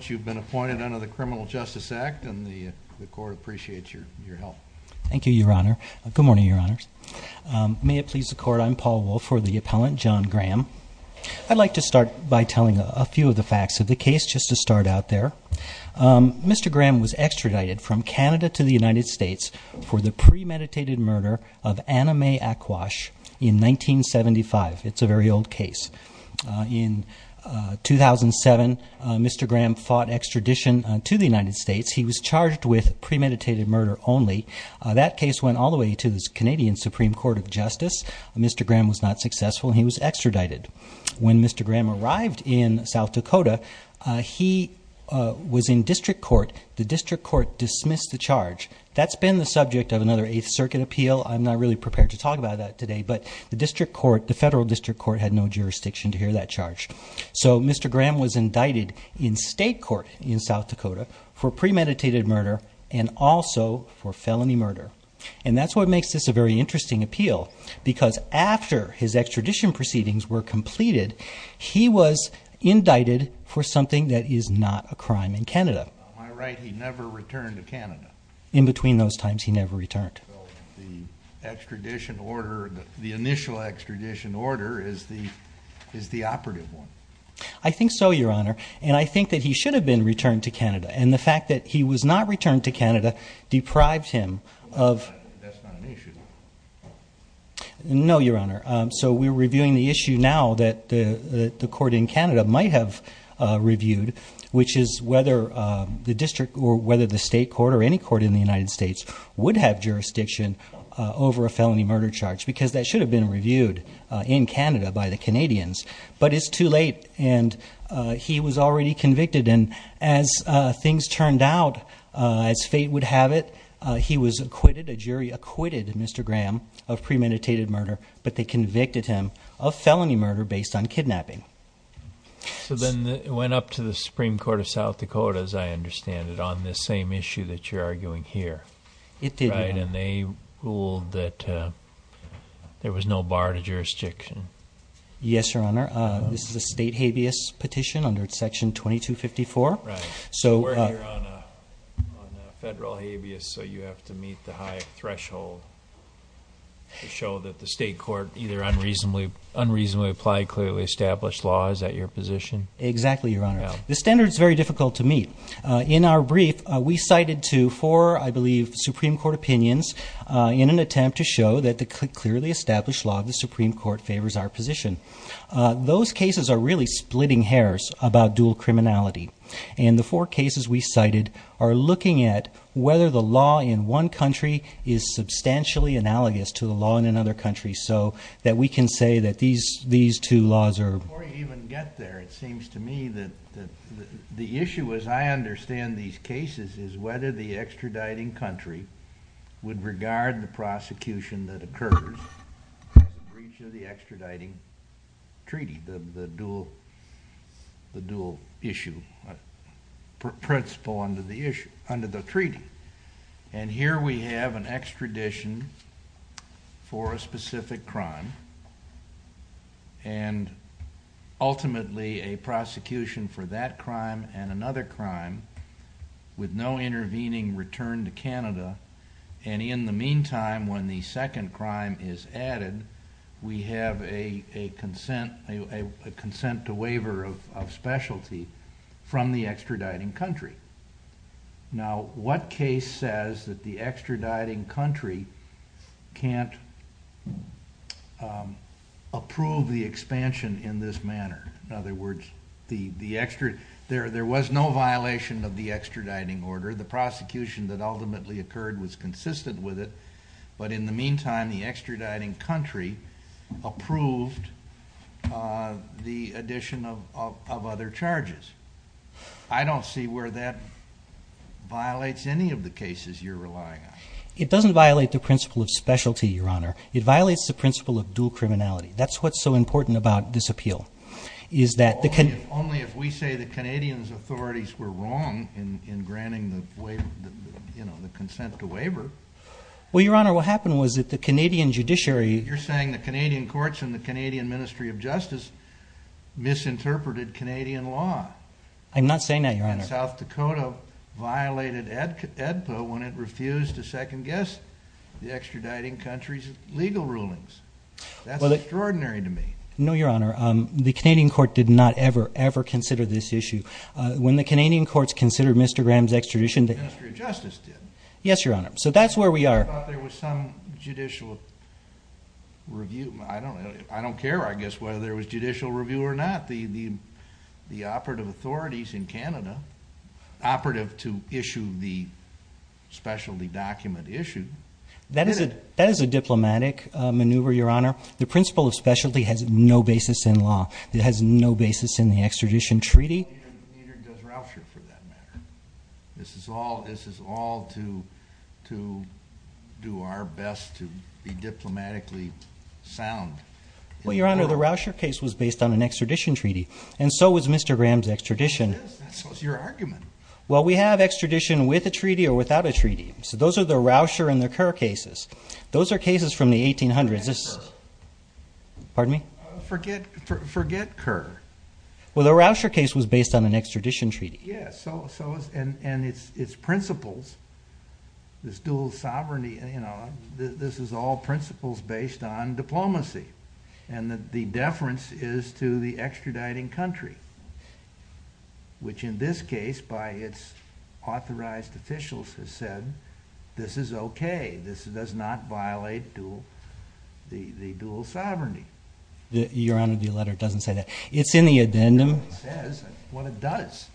You've been appointed under the Criminal Justice Act and the court appreciates your help. Thank you, Your Honor. Good morning, Your Honors. May it please the court, I'm Paul Wolf for the appellant, John Graham. I'd like to start by telling a few of the facts of the case, just to start out there. Mr. Graham was extradited from Canada to the United States for the premeditated murder of Anna Mae Ackwash in 1975. It's a very old case. In 2007, Mr. Graham fought extradition to the United States. He was charged with premeditated murder only. That case went all the way to the Canadian Supreme Court of Justice. Mr. Graham was not successful. He was extradited. When Mr. Graham arrived in South Dakota, he was in district court. The district court dismissed the charge. That's been the subject of another Eighth Circuit appeal. I'm not really prepared to talk about that today, but the district court, the federal district court had no jurisdiction to hear that charge. So Mr. Graham was indicted in state court in South Dakota for premeditated murder and also for felony murder. And that's what makes this a very interesting appeal, because after his extradition proceedings were completed, he was indicted for something that is not a crime in Canada. In between those times, he never returned. The extradition order, the initial extradition order, is the operative one. I think so, Your Honor, and I think that he should have been returned to Canada. And the fact that he was not returned to Canada deprived him of... That's not an issue. No, Your Honor. So we're reviewing the issue now that the court in Canada might have reviewed, which is whether the district or whether the state court or any court in the United States would have jurisdiction over a felony murder charge, because that should have been reviewed in Canada by the Canadians. But it's too late, and he was already convicted. And as things turned out, as fate would have it, he was acquitted, a jury acquitted Mr. Graham of premeditated murder, but they convicted him of felony murder based on kidnapping. So then it went up to the Supreme Court of South Dakota, as I understand it, on this same issue that you're arguing here. It did, Your Honor. Right, and they ruled that there was no bar to jurisdiction. Yes, Your Honor. This is a state habeas petition under Section 2254. Right. So we're here on a federal habeas, so you have to meet the high threshold to show that the state court either unreasonably applied, or clearly established law. Is that your position? Exactly, Your Honor. The standard is very difficult to meet. In our brief, we cited to four, I believe, Supreme Court opinions in an attempt to show that the clearly established law of the Supreme Court favors our position. Those cases are really splitting hairs about dual criminality, and the four cases we cited are looking at whether the law in one country is substantially analogous to the law in another country so that we can say that these two laws are... Before you even get there, it seems to me that the issue, as I understand these cases, is whether the extraditing country would regard the prosecution that occurs in breach of the extraditing treaty, the dual issue, principle under the treaty. Here we have an extradition for a specific crime and ultimately a prosecution for that crime and another crime with no intervening return to Canada. In the meantime, when the second crime is added, we have a consent to waiver of specialty from the extraditing country. Now, what case says that the extraditing country can't approve the expansion in this manner? In other words, there was no violation of the extraditing order. The prosecution that ultimately occurred was consistent with it, but in the meantime, the extraditing country approved the addition of other charges. I don't see where that violates any of the cases you're relying on. It doesn't violate the principle of specialty, Your Honor. It violates the principle of dual criminality. That's what's so important about this appeal is that the... Only if we say the Canadians' authorities were wrong in granting the consent to waiver. Well, Your Honor, what happened was that the Canadian judiciary... I'm not saying that, Your Honor.... and South Dakota violated AEDPA when it refused to second-guess the extraditing country's legal rulings. That's extraordinary to me. No, Your Honor. The Canadian court did not ever, ever consider this issue. When the Canadian courts considered Mr. Graham's extradition... The Ministry of Justice did. Yes, Your Honor. So that's where we are. I thought there was some judicial review. I don't care, I guess, whether there was judicial review or not. The operative authorities in Canada, operative to issue the specialty document issued... That is a diplomatic maneuver, Your Honor. The principle of specialty has no basis in law. It has no basis in the extradition treaty. Neither does Rousher, for that matter. This is all to do our best to be diplomatically sound. Well, Your Honor, the Rousher case was based on an extradition treaty, and so was Mr. Graham's extradition. It is. So is your argument. Well, we have extradition with a treaty or without a treaty. So those are the Rousher and the Kerr cases. Those are cases from the 1800s. Forget Kerr. Pardon me? Forget Kerr. Well, the Rousher case was based on an extradition treaty. And its principles, this dual sovereignty, this is all principles based on diplomacy. And the deference is to the extraditing country, which in this case, by its authorized officials, has said this is okay. This does not violate the dual sovereignty. Your Honor, the letter doesn't say that. It's in the addendum. It says what it does.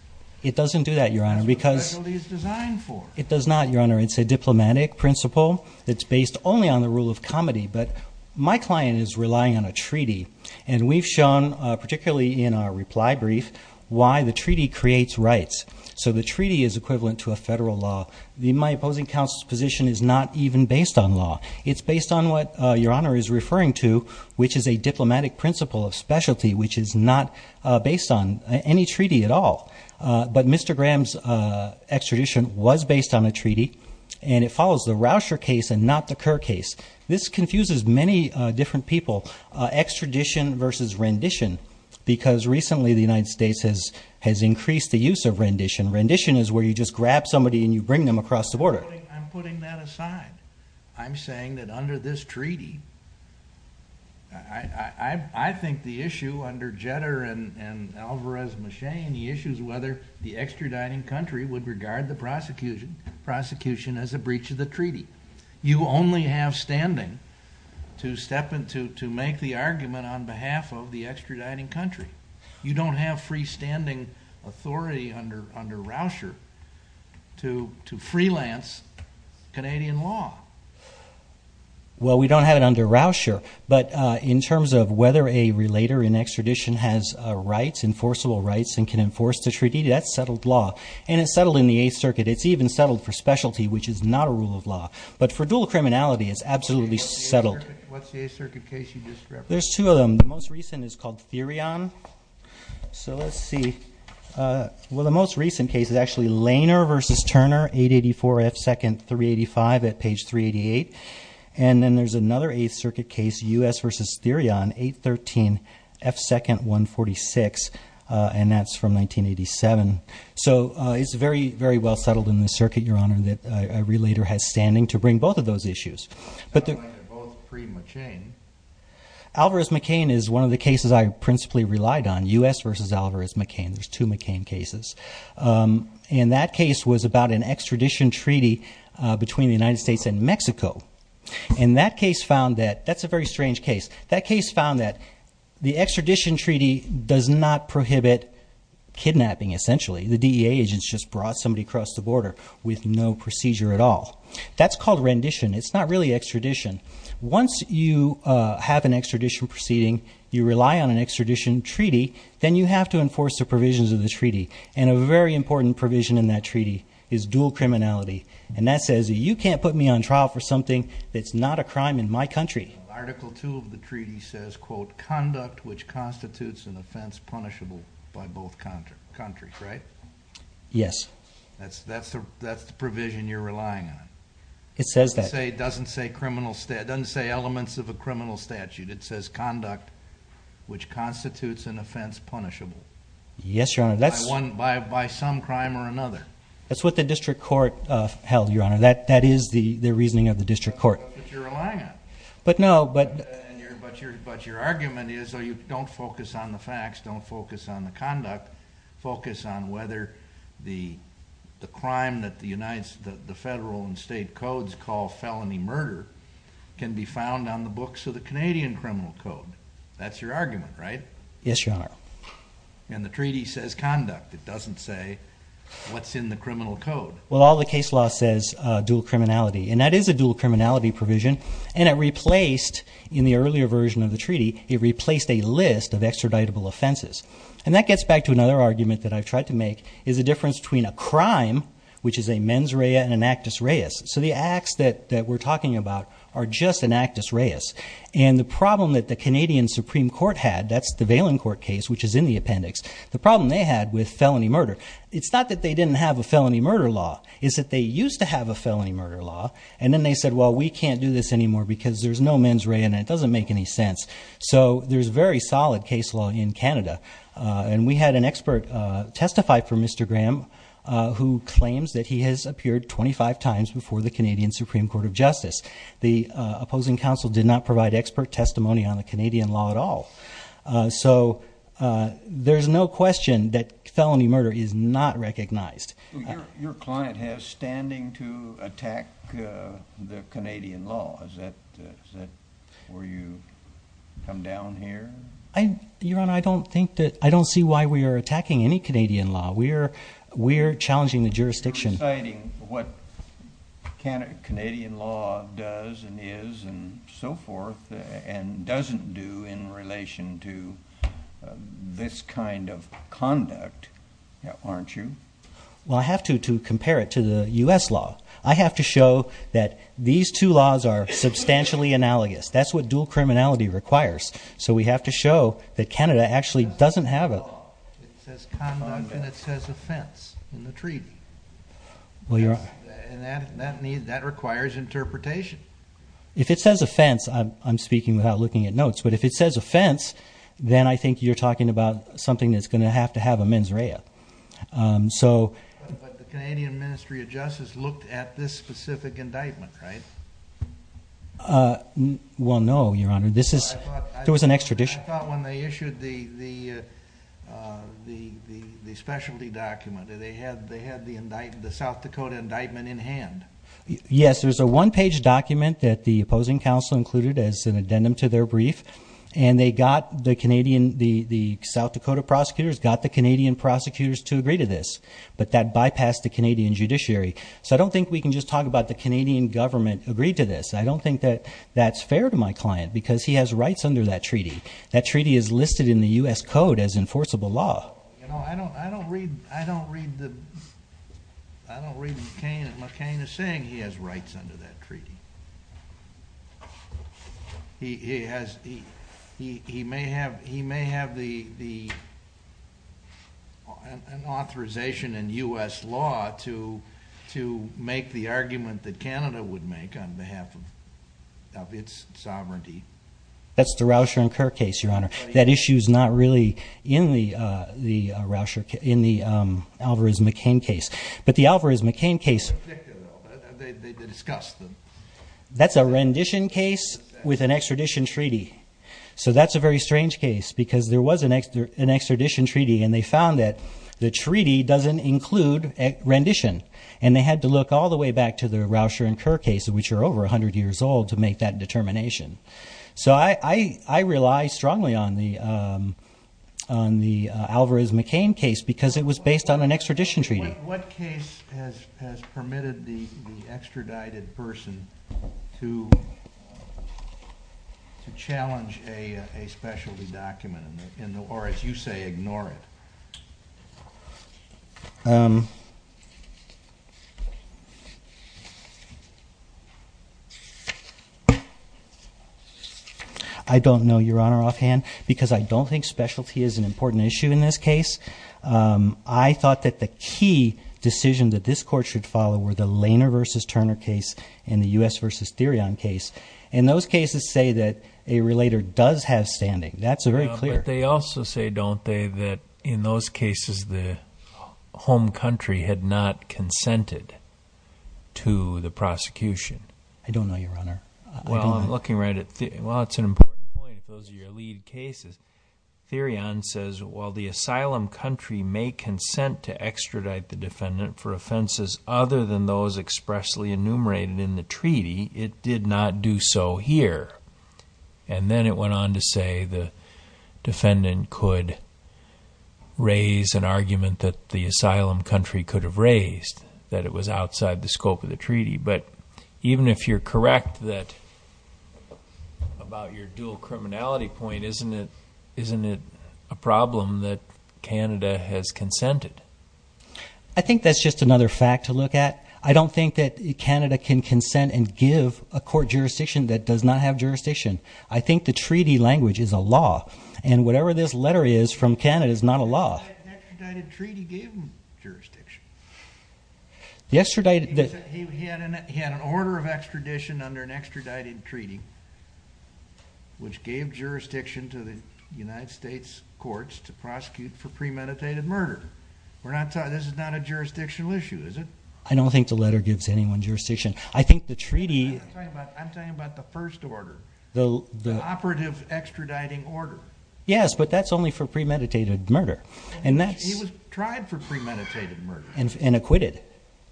It doesn't do that, Your Honor, because the specialty is designed for. It does not, Your Honor. It's a diplomatic principle that's based only on the rule of comity. But my client is relying on a treaty, and we've shown, particularly in our reply brief, why the treaty creates rights. So the treaty is equivalent to a federal law. My opposing counsel's position is not even based on law. It's based on what Your Honor is referring to, which is a diplomatic principle of specialty, which is not based on any treaty at all. But Mr. Graham's extradition was based on a treaty, and it follows the Rousher case and not the Kerr case. This confuses many different people, extradition versus rendition, because recently the United States has increased the use of rendition. Rendition is where you just grab somebody and you bring them across the border. I'm putting that aside. I'm saying that under this treaty, I think the issue under Jetter and Alvarez-Machin, the issue is whether the extraditing country would regard the prosecution as a breach of the treaty. You only have standing to make the argument on behalf of the extraditing country. You don't have freestanding authority under Rousher to freelance Canadian law. Well, we don't have it under Rousher, but in terms of whether a relator in extradition has rights, enforceable rights, and can enforce the treaty, that's settled law. And it's settled in the Eighth Circuit. It's even settled for specialty, which is not a rule of law. But for dual criminality, it's absolutely settled. What's the Eighth Circuit case you just referred to? There's two of them. The most recent is called Therion. So let's see. Well, the most recent case is actually Lehner v. Turner, 884 F. 2nd, 385 at page 388. And then there's another Eighth Circuit case, U.S. v. Therion, 813 F. 2nd, 146, and that's from 1987. So it's very, very well settled in the circuit, Your Honor, that a relator has standing to bring both of those issues. But they're both pre-McCain. Alvarez-McCain is one of the cases I principally relied on, U.S. v. Alvarez-McCain. There's two McCain cases. And that case was about an extradition treaty between the United States and Mexico. And that case found that that's a very strange case. That case found that the extradition treaty does not prohibit kidnapping, essentially. The DEA agents just brought somebody across the border with no procedure at all. That's called rendition. It's not really extradition. Once you have an extradition proceeding, you rely on an extradition treaty, then you have to enforce the provisions of the treaty. And a very important provision in that treaty is dual criminality. And that says you can't put me on trial for something that's not a crime in my country. Article 2 of the treaty says, quote, conduct which constitutes an offense punishable by both countries, right? Yes. That's the provision you're relying on. It says that. It doesn't say elements of a criminal statute. It says conduct which constitutes an offense punishable. Yes, Your Honor. By some crime or another. That's what the district court held, Your Honor. That is the reasoning of the district court. That's what you're relying on. But no. But your argument is don't focus on the facts. Don't focus on the conduct. Focus on whether the crime that the federal and state codes call felony murder can be found on the books of the Canadian criminal code. That's your argument, right? Yes, Your Honor. And the treaty says conduct. It doesn't say what's in the criminal code. Well, all the case law says dual criminality. And that is a dual criminality provision. And it replaced, in the earlier version of the treaty, it replaced a list of extraditable offenses. And that gets back to another argument that I've tried to make is the difference between a crime, which is a mens rea and an actus reus. So the acts that we're talking about are just an actus reus. And the problem that the Canadian Supreme Court had, that's the Valen Court case, which is in the appendix. The problem they had with felony murder, it's not that they didn't have a felony murder law. It's that they used to have a felony murder law. And then they said, well, we can't do this anymore because there's no mens rea and it doesn't make any sense. So there's very solid case law in Canada. And we had an expert testify for Mr. Graham who claims that he has appeared 25 times before the Canadian Supreme Court of Justice. The opposing counsel did not provide expert testimony on the Canadian law at all. So there's no question that felony murder is not recognized. Your client has standing to attack the Canadian law. Is that where you come down here? Your Honor, I don't think that I don't see why we are attacking any Canadian law. We're challenging the jurisdiction. You're reciting what Canadian law does and is and so forth and doesn't do in relation to this kind of conduct, aren't you? Well, I have to compare it to the U.S. law. I have to show that these two laws are substantially analogous. That's what dual criminality requires. So we have to show that Canada actually doesn't have a law. It says conduct and it says offense in the treaty. And that requires interpretation. If it says offense, I'm speaking without looking at notes, but if it says offense, then I think you're talking about something that's going to have to have a mens rea. But the Canadian Ministry of Justice looked at this specific indictment, right? Well, no, Your Honor. I thought when they issued the specialty document, they had the South Dakota indictment in hand. Yes, there's a one-page document that the opposing counsel included as an addendum to their brief, and the South Dakota prosecutors got the Canadian prosecutors to agree to this, but that bypassed the Canadian judiciary. So I don't think we can just talk about the Canadian government agreed to this. I don't think that that's fair to my client because he has rights under that treaty. That treaty is listed in the U.S. Code as enforceable law. I don't read McCain as saying he has rights under that treaty. He may have the authorization in U.S. law to make the argument that Canada would make on behalf of its sovereignty. That's the Rauscher and Kerr case, Your Honor. That issue is not really in the Alvarez-McCain case. But the Alvarez-McCain case... They discussed them. That's a rendition case with an extradition treaty. So that's a very strange case because there was an extradition treaty, and they found that the treaty doesn't include rendition. And they had to look all the way back to the Rauscher and Kerr case, which are over 100 years old, to make that determination. So I rely strongly on the Alvarez-McCain case because it was based on an extradition treaty. What case has permitted the extradited person to challenge a specialty document or, as you say, ignore it? I don't know, Your Honor, offhand, because I don't think specialty is an important issue in this case. I thought that the key decision that this court should follow were the Lehner v. Turner case and the U.S. v. Therion case. And those cases say that a relator does have standing. That's very clear. But they also say, don't they, that in those cases the home country had not consented to the prosecution? I don't know, Your Honor. Well, it's an important point if those are your lead cases. Therion says, while the asylum country may consent to extradite the defendant for offenses other than those expressly enumerated in the treaty, it did not do so here. And then it went on to say the defendant could raise an argument that the asylum country could have raised, that it was outside the scope of the treaty. But even if you're correct about your dual criminality point, isn't it a problem that Canada has consented? I think that's just another fact to look at. I don't think that Canada can consent and give a court jurisdiction that does not have jurisdiction. I think the treaty language is a law, and whatever this letter is from Canada is not a law. The extradited treaty gave him jurisdiction. He had an order of extradition under an extradited treaty, which gave jurisdiction to the United States courts to prosecute for premeditated murder. This is not a jurisdictional issue, is it? I don't think the letter gives anyone jurisdiction. I'm talking about the first order, the operative extraditing order. Yes, but that's only for premeditated murder. He was tried for premeditated murder. And acquitted.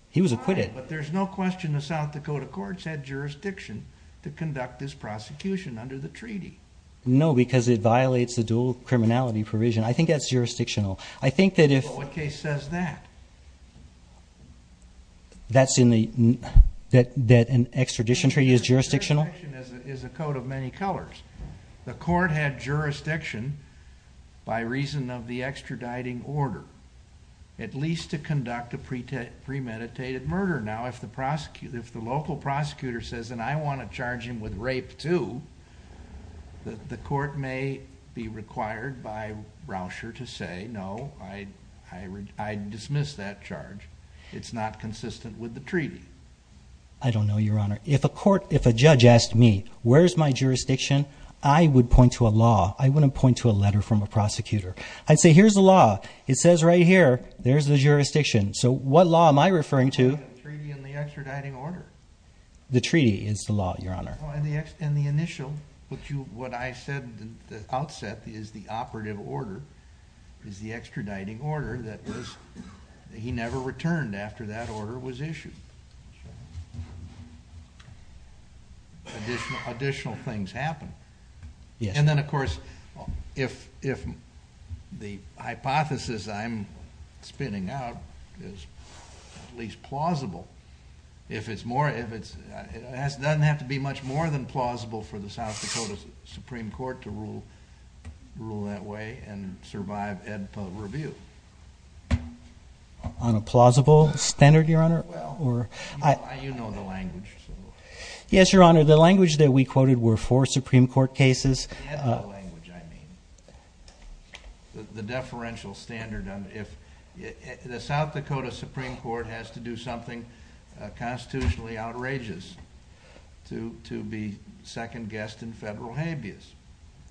He was acquitted. But there's no question the South Dakota courts had jurisdiction to conduct this prosecution under the treaty. No, because it violates the dual criminality provision. I think that's jurisdictional. But what case says that? That an extradition treaty is jurisdictional? It is a code of many colors. The court had jurisdiction, by reason of the extraditing order, at least to conduct a premeditated murder. Now, if the local prosecutor says, and I want to charge him with rape, too, the court may be required by Rauscher to say, no, I dismiss that charge. It's not consistent with the treaty. I don't know, Your Honor. If a court, if a judge asked me, where's my jurisdiction, I would point to a law. I wouldn't point to a letter from a prosecutor. I'd say, here's the law. It says right here, there's the jurisdiction. So what law am I referring to? The treaty and the extraditing order. The treaty is the law, Your Honor. In the initial, what I said at the outset is the operative order is the extraditing order that he never returned after that order was issued. Additional things happen. And then, of course, if the hypothesis I'm spinning out is at least plausible, if it's more, if it's, it doesn't have to be much more than plausible for the South Dakota Supreme Court to rule that way and survive Ed Pugh review. On a plausible standard, Your Honor? Well, you know the language. Yes, Your Honor. The language that we quoted were for Supreme Court cases. And the language, I mean. The deferential standard, if the South Dakota Supreme Court has to do something constitutionally outrageous to be second-guessed in federal habeas.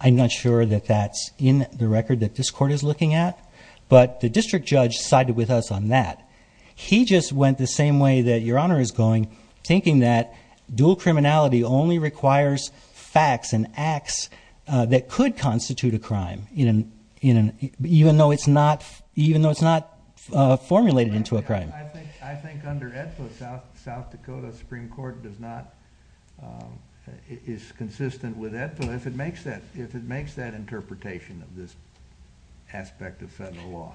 I'm not sure that that's in the record that this court is looking at. But the district judge sided with us on that. He just went the same way that Your Honor is going, thinking that dual criminality only requires facts and acts that could constitute a crime, even though it's not, even though it's not formulated into a crime. I think under Ed Pugh, South Dakota Supreme Court does not, is consistent with Ed Pugh if it makes that, if it makes that interpretation of this aspect of federal law.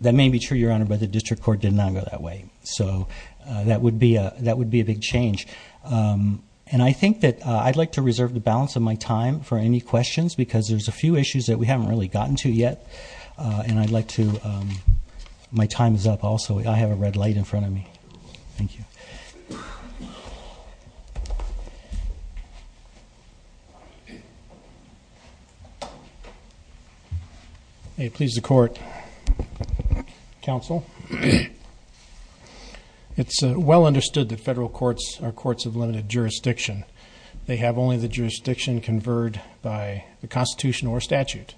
That may be true, Your Honor, but the district court did not go that way. So that would be a big change. And I think that I'd like to reserve the balance of my time for any questions, because there's a few issues that we haven't really gotten to yet. And I'd like to, my time is up also. I have a red light in front of me. Thank you. Okay. May it please the court. Counsel. It's well understood that federal courts are courts of limited jurisdiction. They have only the jurisdiction converged by the Constitution or statute.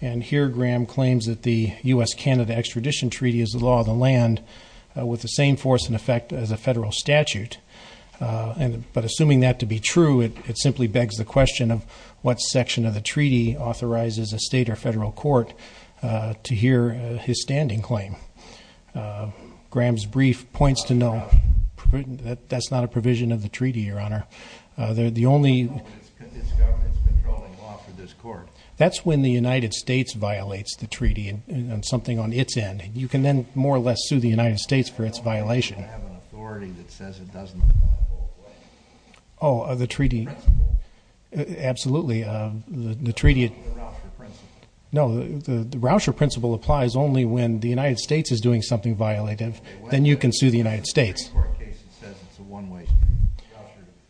And here Graham claims that the U.S.-Canada Extradition Treaty is the law of the land with the same force and effect as a federal statute. But assuming that to be true, it simply begs the question of what section of the treaty authorizes a state or federal court to hear his standing claim. Graham's brief points to no, that's not a provision of the treaty, Your Honor. No, but it's government's controlling law for this court. That's when the United States violates the treaty and something on its end. You can then more or less sue the United States for its violation. No, but you have an authority that says it doesn't apply. Oh, the treaty. The principle. Absolutely, the treaty. The Rauscher principle. No, the Rauscher principle applies only when the United States is doing something violative. Then you can sue the United States. In the Supreme Court case, it says it's a one-way street.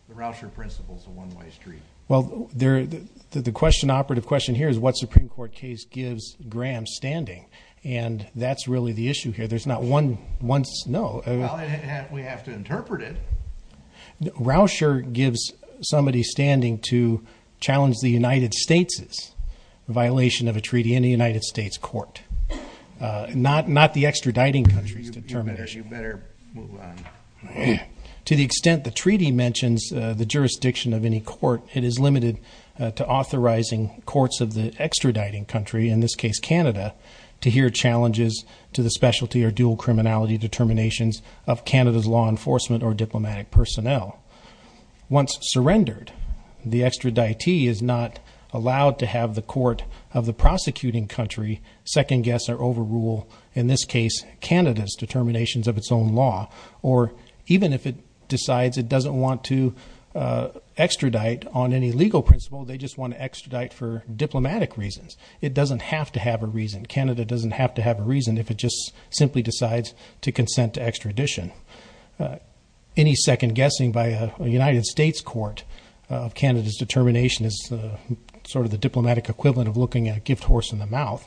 The Rauscher principle is a one-way street. Well, the question, operative question here is what Supreme Court case gives Graham's standing, and that's really the issue here. There's not one, no. Well, we have to interpret it. Rauscher gives somebody's standing to challenge the United States' violation of a treaty in a United States court, not the extraditing country's determination. To the extent the treaty mentions the jurisdiction of any court, it is limited to authorizing courts of the extraditing country, in this case Canada, to hear challenges to the specialty or dual criminality determinations of Canada's law enforcement or diplomatic personnel. Once surrendered, the extraditee is not allowed to have the court of the prosecuting country second-guess or overrule, in this case, Canada's determinations of its own law. Or even if it decides it doesn't want to extradite on any legal principle, they just want to extradite for diplomatic reasons. It doesn't have to have a reason. Canada doesn't have to have a reason if it just simply decides to consent to extradition. Any second-guessing by a United States court of Canada's determination is sort of the diplomatic equivalent of looking at a gift horse in the mouth.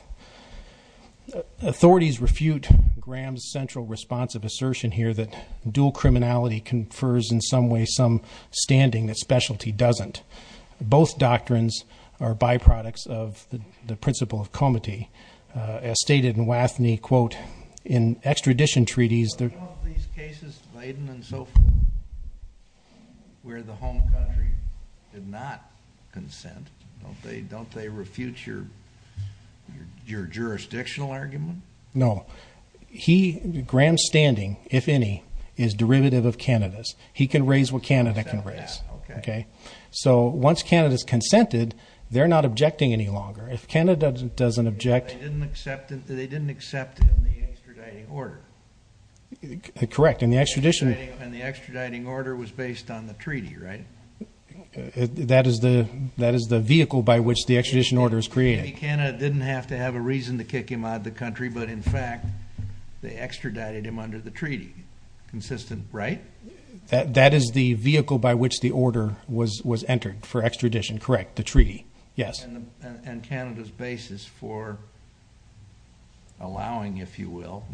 Authorities refute Graham's central response of assertion here that dual criminality confers in some way some standing that specialty doesn't. Both doctrines are byproducts of the principle of comity. As stated in Wathney, quote, in extradition treaties, there... ...where the home country did not consent. Don't they refute your jurisdictional argument? No. He, Graham's standing, if any, is derivative of Canada's. He can raise what Canada can raise. Okay. So once Canada's consented, they're not objecting any longer. If Canada doesn't object... They didn't accept it in the extraditing order. Correct. In the extradition... And the extraditing order was based on the treaty, right? That is the vehicle by which the extradition order is created. Canada didn't have to have a reason to kick him out of the country, but, in fact, they extradited him under the treaty. Consistent, right? That is the vehicle by which the order was entered for extradition. Correct. The treaty. Yes. And Canada's basis for allowing, if you will,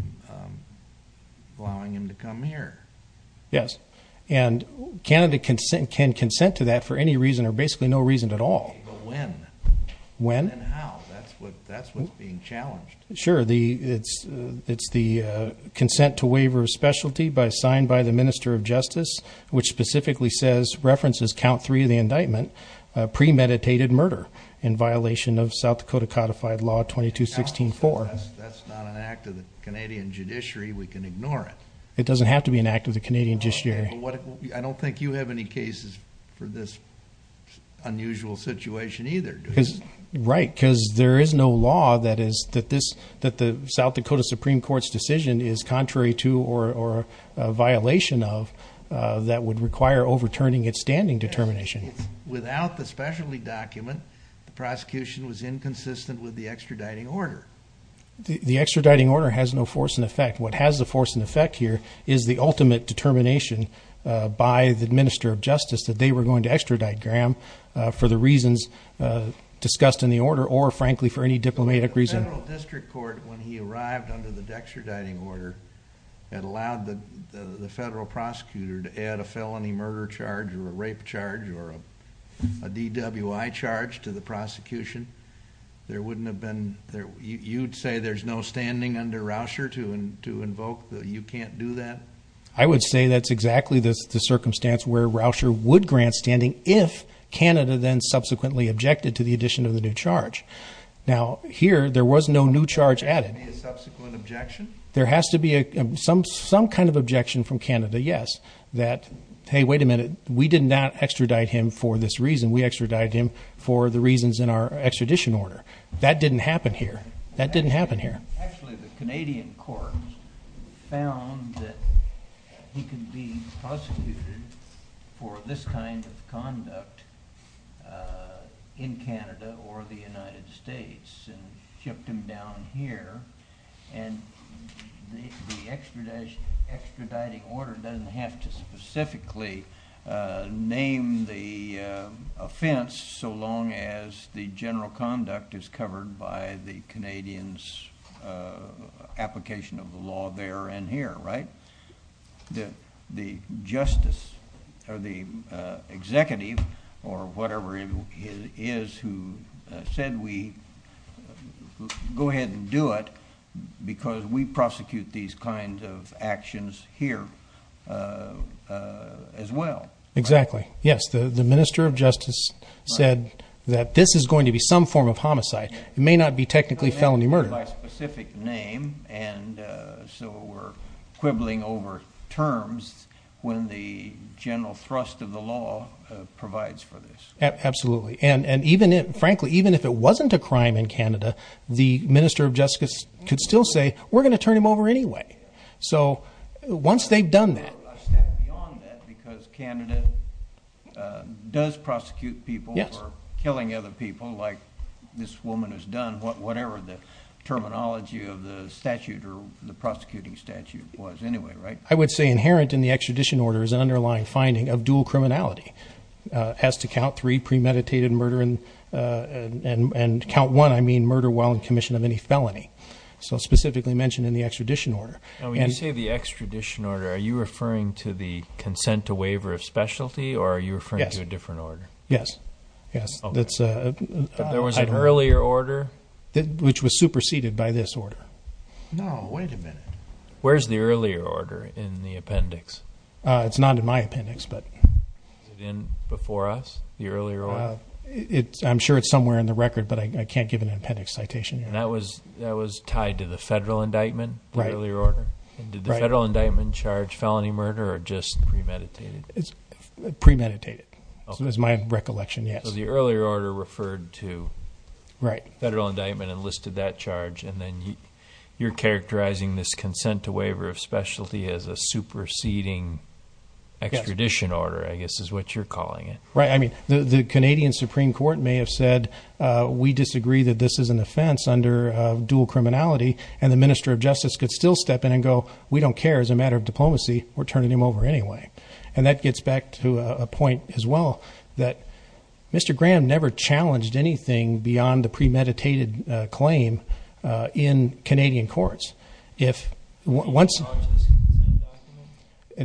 allowing him to come here. Yes. And Canada can consent to that for any reason or basically no reason at all. But when? When? And how? That's what's being challenged. Sure. It's the consent to waiver of specialty signed by the Minister of Justice, which specifically says, references count three of the indictment, premeditated murder in violation of South Dakota codified law 22-16-4. That's not an act of the Canadian judiciary. We can ignore it. It doesn't have to be an act of the Canadian judiciary. I don't think you have any cases for this unusual situation either. Right, because there is no law that the South Dakota Supreme Court's decision is contrary to or a violation of that would require overturning its standing determination. Without the specialty document, the prosecution was inconsistent with the extraditing order. The extraditing order has no force in effect. What has the force in effect here is the ultimate determination by the Minister of Justice that they were going to extradite Graham for the reasons discussed in the order or, frankly, for any diplomatic reason. But the federal district court, when he arrived under the extraditing order, had allowed the federal prosecutor to add a felony murder charge or a rape charge or a DWI charge to the prosecution. There wouldn't have been, you'd say there's no standing under Rauscher to invoke that you can't do that? I would say that's exactly the circumstance where Rauscher would grant standing if Canada then subsequently objected to the addition of the new charge. Now, here, there was no new charge added. There has to be a subsequent objection? There has to be some kind of objection from Canada, yes, that, hey, wait a minute, we did not extradite him for this reason. We extradited him for the reasons in our extradition order. That didn't happen here. That didn't happen here. Actually, the Canadian court found that he could be prosecuted for this kind of conduct in Canada or the United States and shipped him down here, and the extraditing order doesn't have to specifically name the offense so long as the general conduct is covered by the Canadian's application of the law there and here, right? The justice or the executive or whatever it is who said we go ahead and do it because we prosecute these kinds of actions here as well. Exactly. Yes, the Minister of Justice said that this is going to be some form of homicide. It may not be technically felony murder. By specific name, and so we're quibbling over terms when the general thrust of the law provides for this. Absolutely, and frankly, even if it wasn't a crime in Canada, the Minister of Justice could still say we're going to turn him over anyway. So once they've done that. A step beyond that because Canada does prosecute people for killing other people like this woman has done, whatever the terminology of the statute or the prosecuting statute was anyway, right? I would say inherent in the extradition order is an underlying finding of dual criminality. As to count three, premeditated murder, and count one, I mean murder while in commission of any felony. So specifically mentioned in the extradition order. When you say the extradition order, are you referring to the consent to waiver of specialty, or are you referring to a different order? Yes, yes. There was an earlier order. Which was superseded by this order. No, wait a minute. Where's the earlier order in the appendix? It's not in my appendix, but. Is it in before us, the earlier order? I'm sure it's somewhere in the record, but I can't give an appendix citation here. And that was tied to the federal indictment, the earlier order? Did the federal indictment charge felony murder or just premeditated? Premeditated, is my recollection, yes. So the earlier order referred to federal indictment and listed that charge, and then you're characterizing this consent to waiver of specialty as a superseding extradition order, I guess is what you're calling it. Right, I mean, the Canadian Supreme Court may have said, we disagree that this is an offense under dual criminality, and the Minister of Justice could still step in and go, we don't care, as a matter of diplomacy, we're turning him over anyway. And that gets back to a point as well, that Mr. Graham never challenged anything beyond the premeditated claim in Canadian courts. He didn't challenge this consent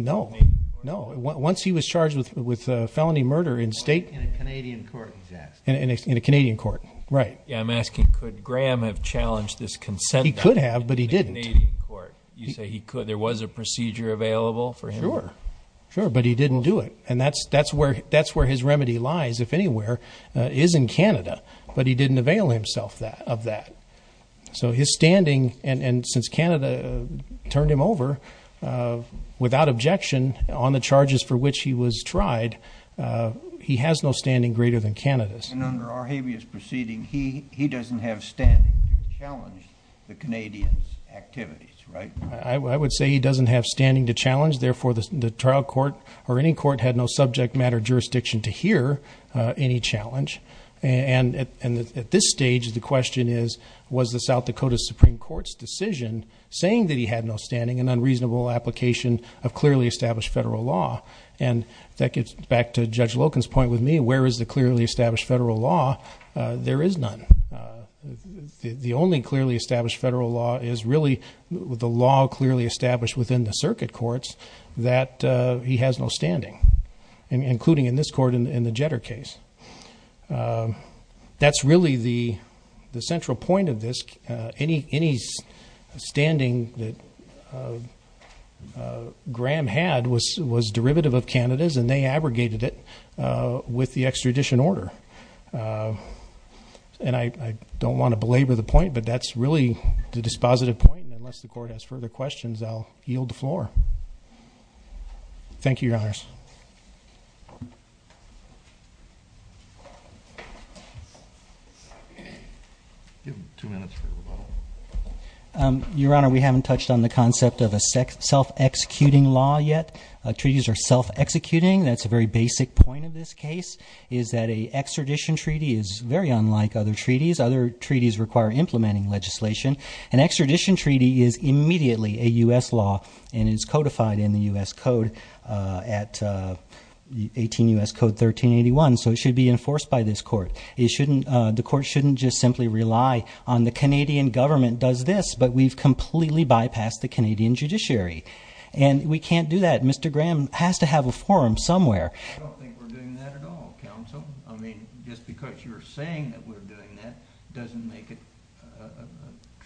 document? No. Once he was charged with felony murder in state- In a Canadian court, he's asking. In a Canadian court, right. Yeah, I'm asking, could Graham have challenged this consent document in a Canadian court? He could have, but he didn't. You say there was a procedure available for him? Sure, but he didn't do it. And that's where his remedy lies, if anywhere, is in Canada. But he didn't avail himself of that. So his standing, and since Canada turned him over, without objection on the charges for which he was tried, he has no standing greater than Canada's. And under our habeas proceeding, he doesn't have standing to challenge the Canadians' activities, right? I would say he doesn't have standing to challenge, therefore the trial court or any court had no subject matter jurisdiction to hear any challenge. And at this stage, the question is, was the South Dakota Supreme Court's decision saying that he had no standing an unreasonable application of clearly established federal law? And that gets back to Judge Loken's point with me, where is the clearly established federal law? There is none. The only clearly established federal law is really the law clearly established within the circuit courts that he has no standing, including in this court in the Jetter case. That's really the central point of this. Any standing that Graham had was derivative of Canada's, and they abrogated it with the extradition order. And I don't want to belabor the point, but that's really the dispositive point. And unless the court has further questions, I'll yield the floor. Thank you, Your Honors. Give him two minutes for rebuttal. Your Honor, we haven't touched on the concept of a self-executing law yet. Treaties are self-executing. That's a very basic point of this case, is that an extradition treaty is very unlike other treaties. Other treaties require implementing legislation. An extradition treaty is immediately a U.S. law and is codified in the U.S. Code at 18 U.S. Code 1381, so it should be enforced by this court. The court shouldn't just simply rely on the Canadian government does this, but we've completely bypassed the Canadian judiciary, and we can't do that. Mr. Graham has to have a forum somewhere. I don't think we're doing that at all, counsel. I mean, just because you're saying that we're doing that doesn't make it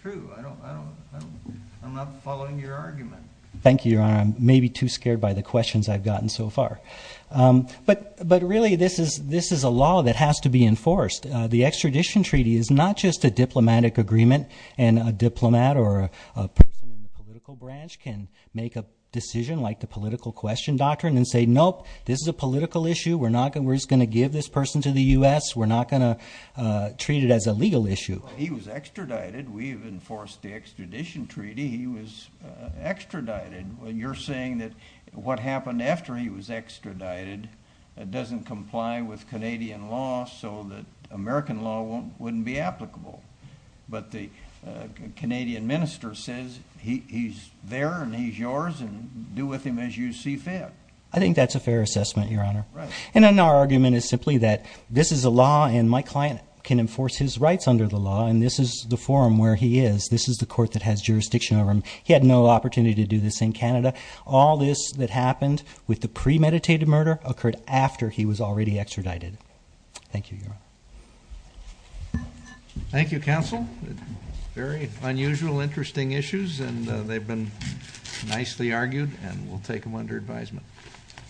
true. I'm not following your argument. Thank you, Your Honor. I'm maybe too scared by the questions I've gotten so far. But really this is a law that has to be enforced. The extradition treaty is not just a diplomatic agreement, and a diplomat or a person in the political branch can make a decision like the political question doctrine and say, nope, this is a political issue, we're just going to give this person to the U.S., we're not going to treat it as a legal issue. He was extradited. We've enforced the extradition treaty. He was extradited. You're saying that what happened after he was extradited doesn't comply with Canadian law so that American law wouldn't be applicable. But the Canadian minister says he's there and he's yours and do with him as you see fit. I think that's a fair assessment, Your Honor. And our argument is simply that this is a law, and my client can enforce his rights under the law, and this is the forum where he is. This is the court that has jurisdiction over him. He had no opportunity to do this in Canada. All this that happened with the premeditated murder occurred after he was already extradited. Thank you, Your Honor. Thank you, counsel. Very unusual, interesting issues, and they've been nicely argued, and we'll take them under advisement.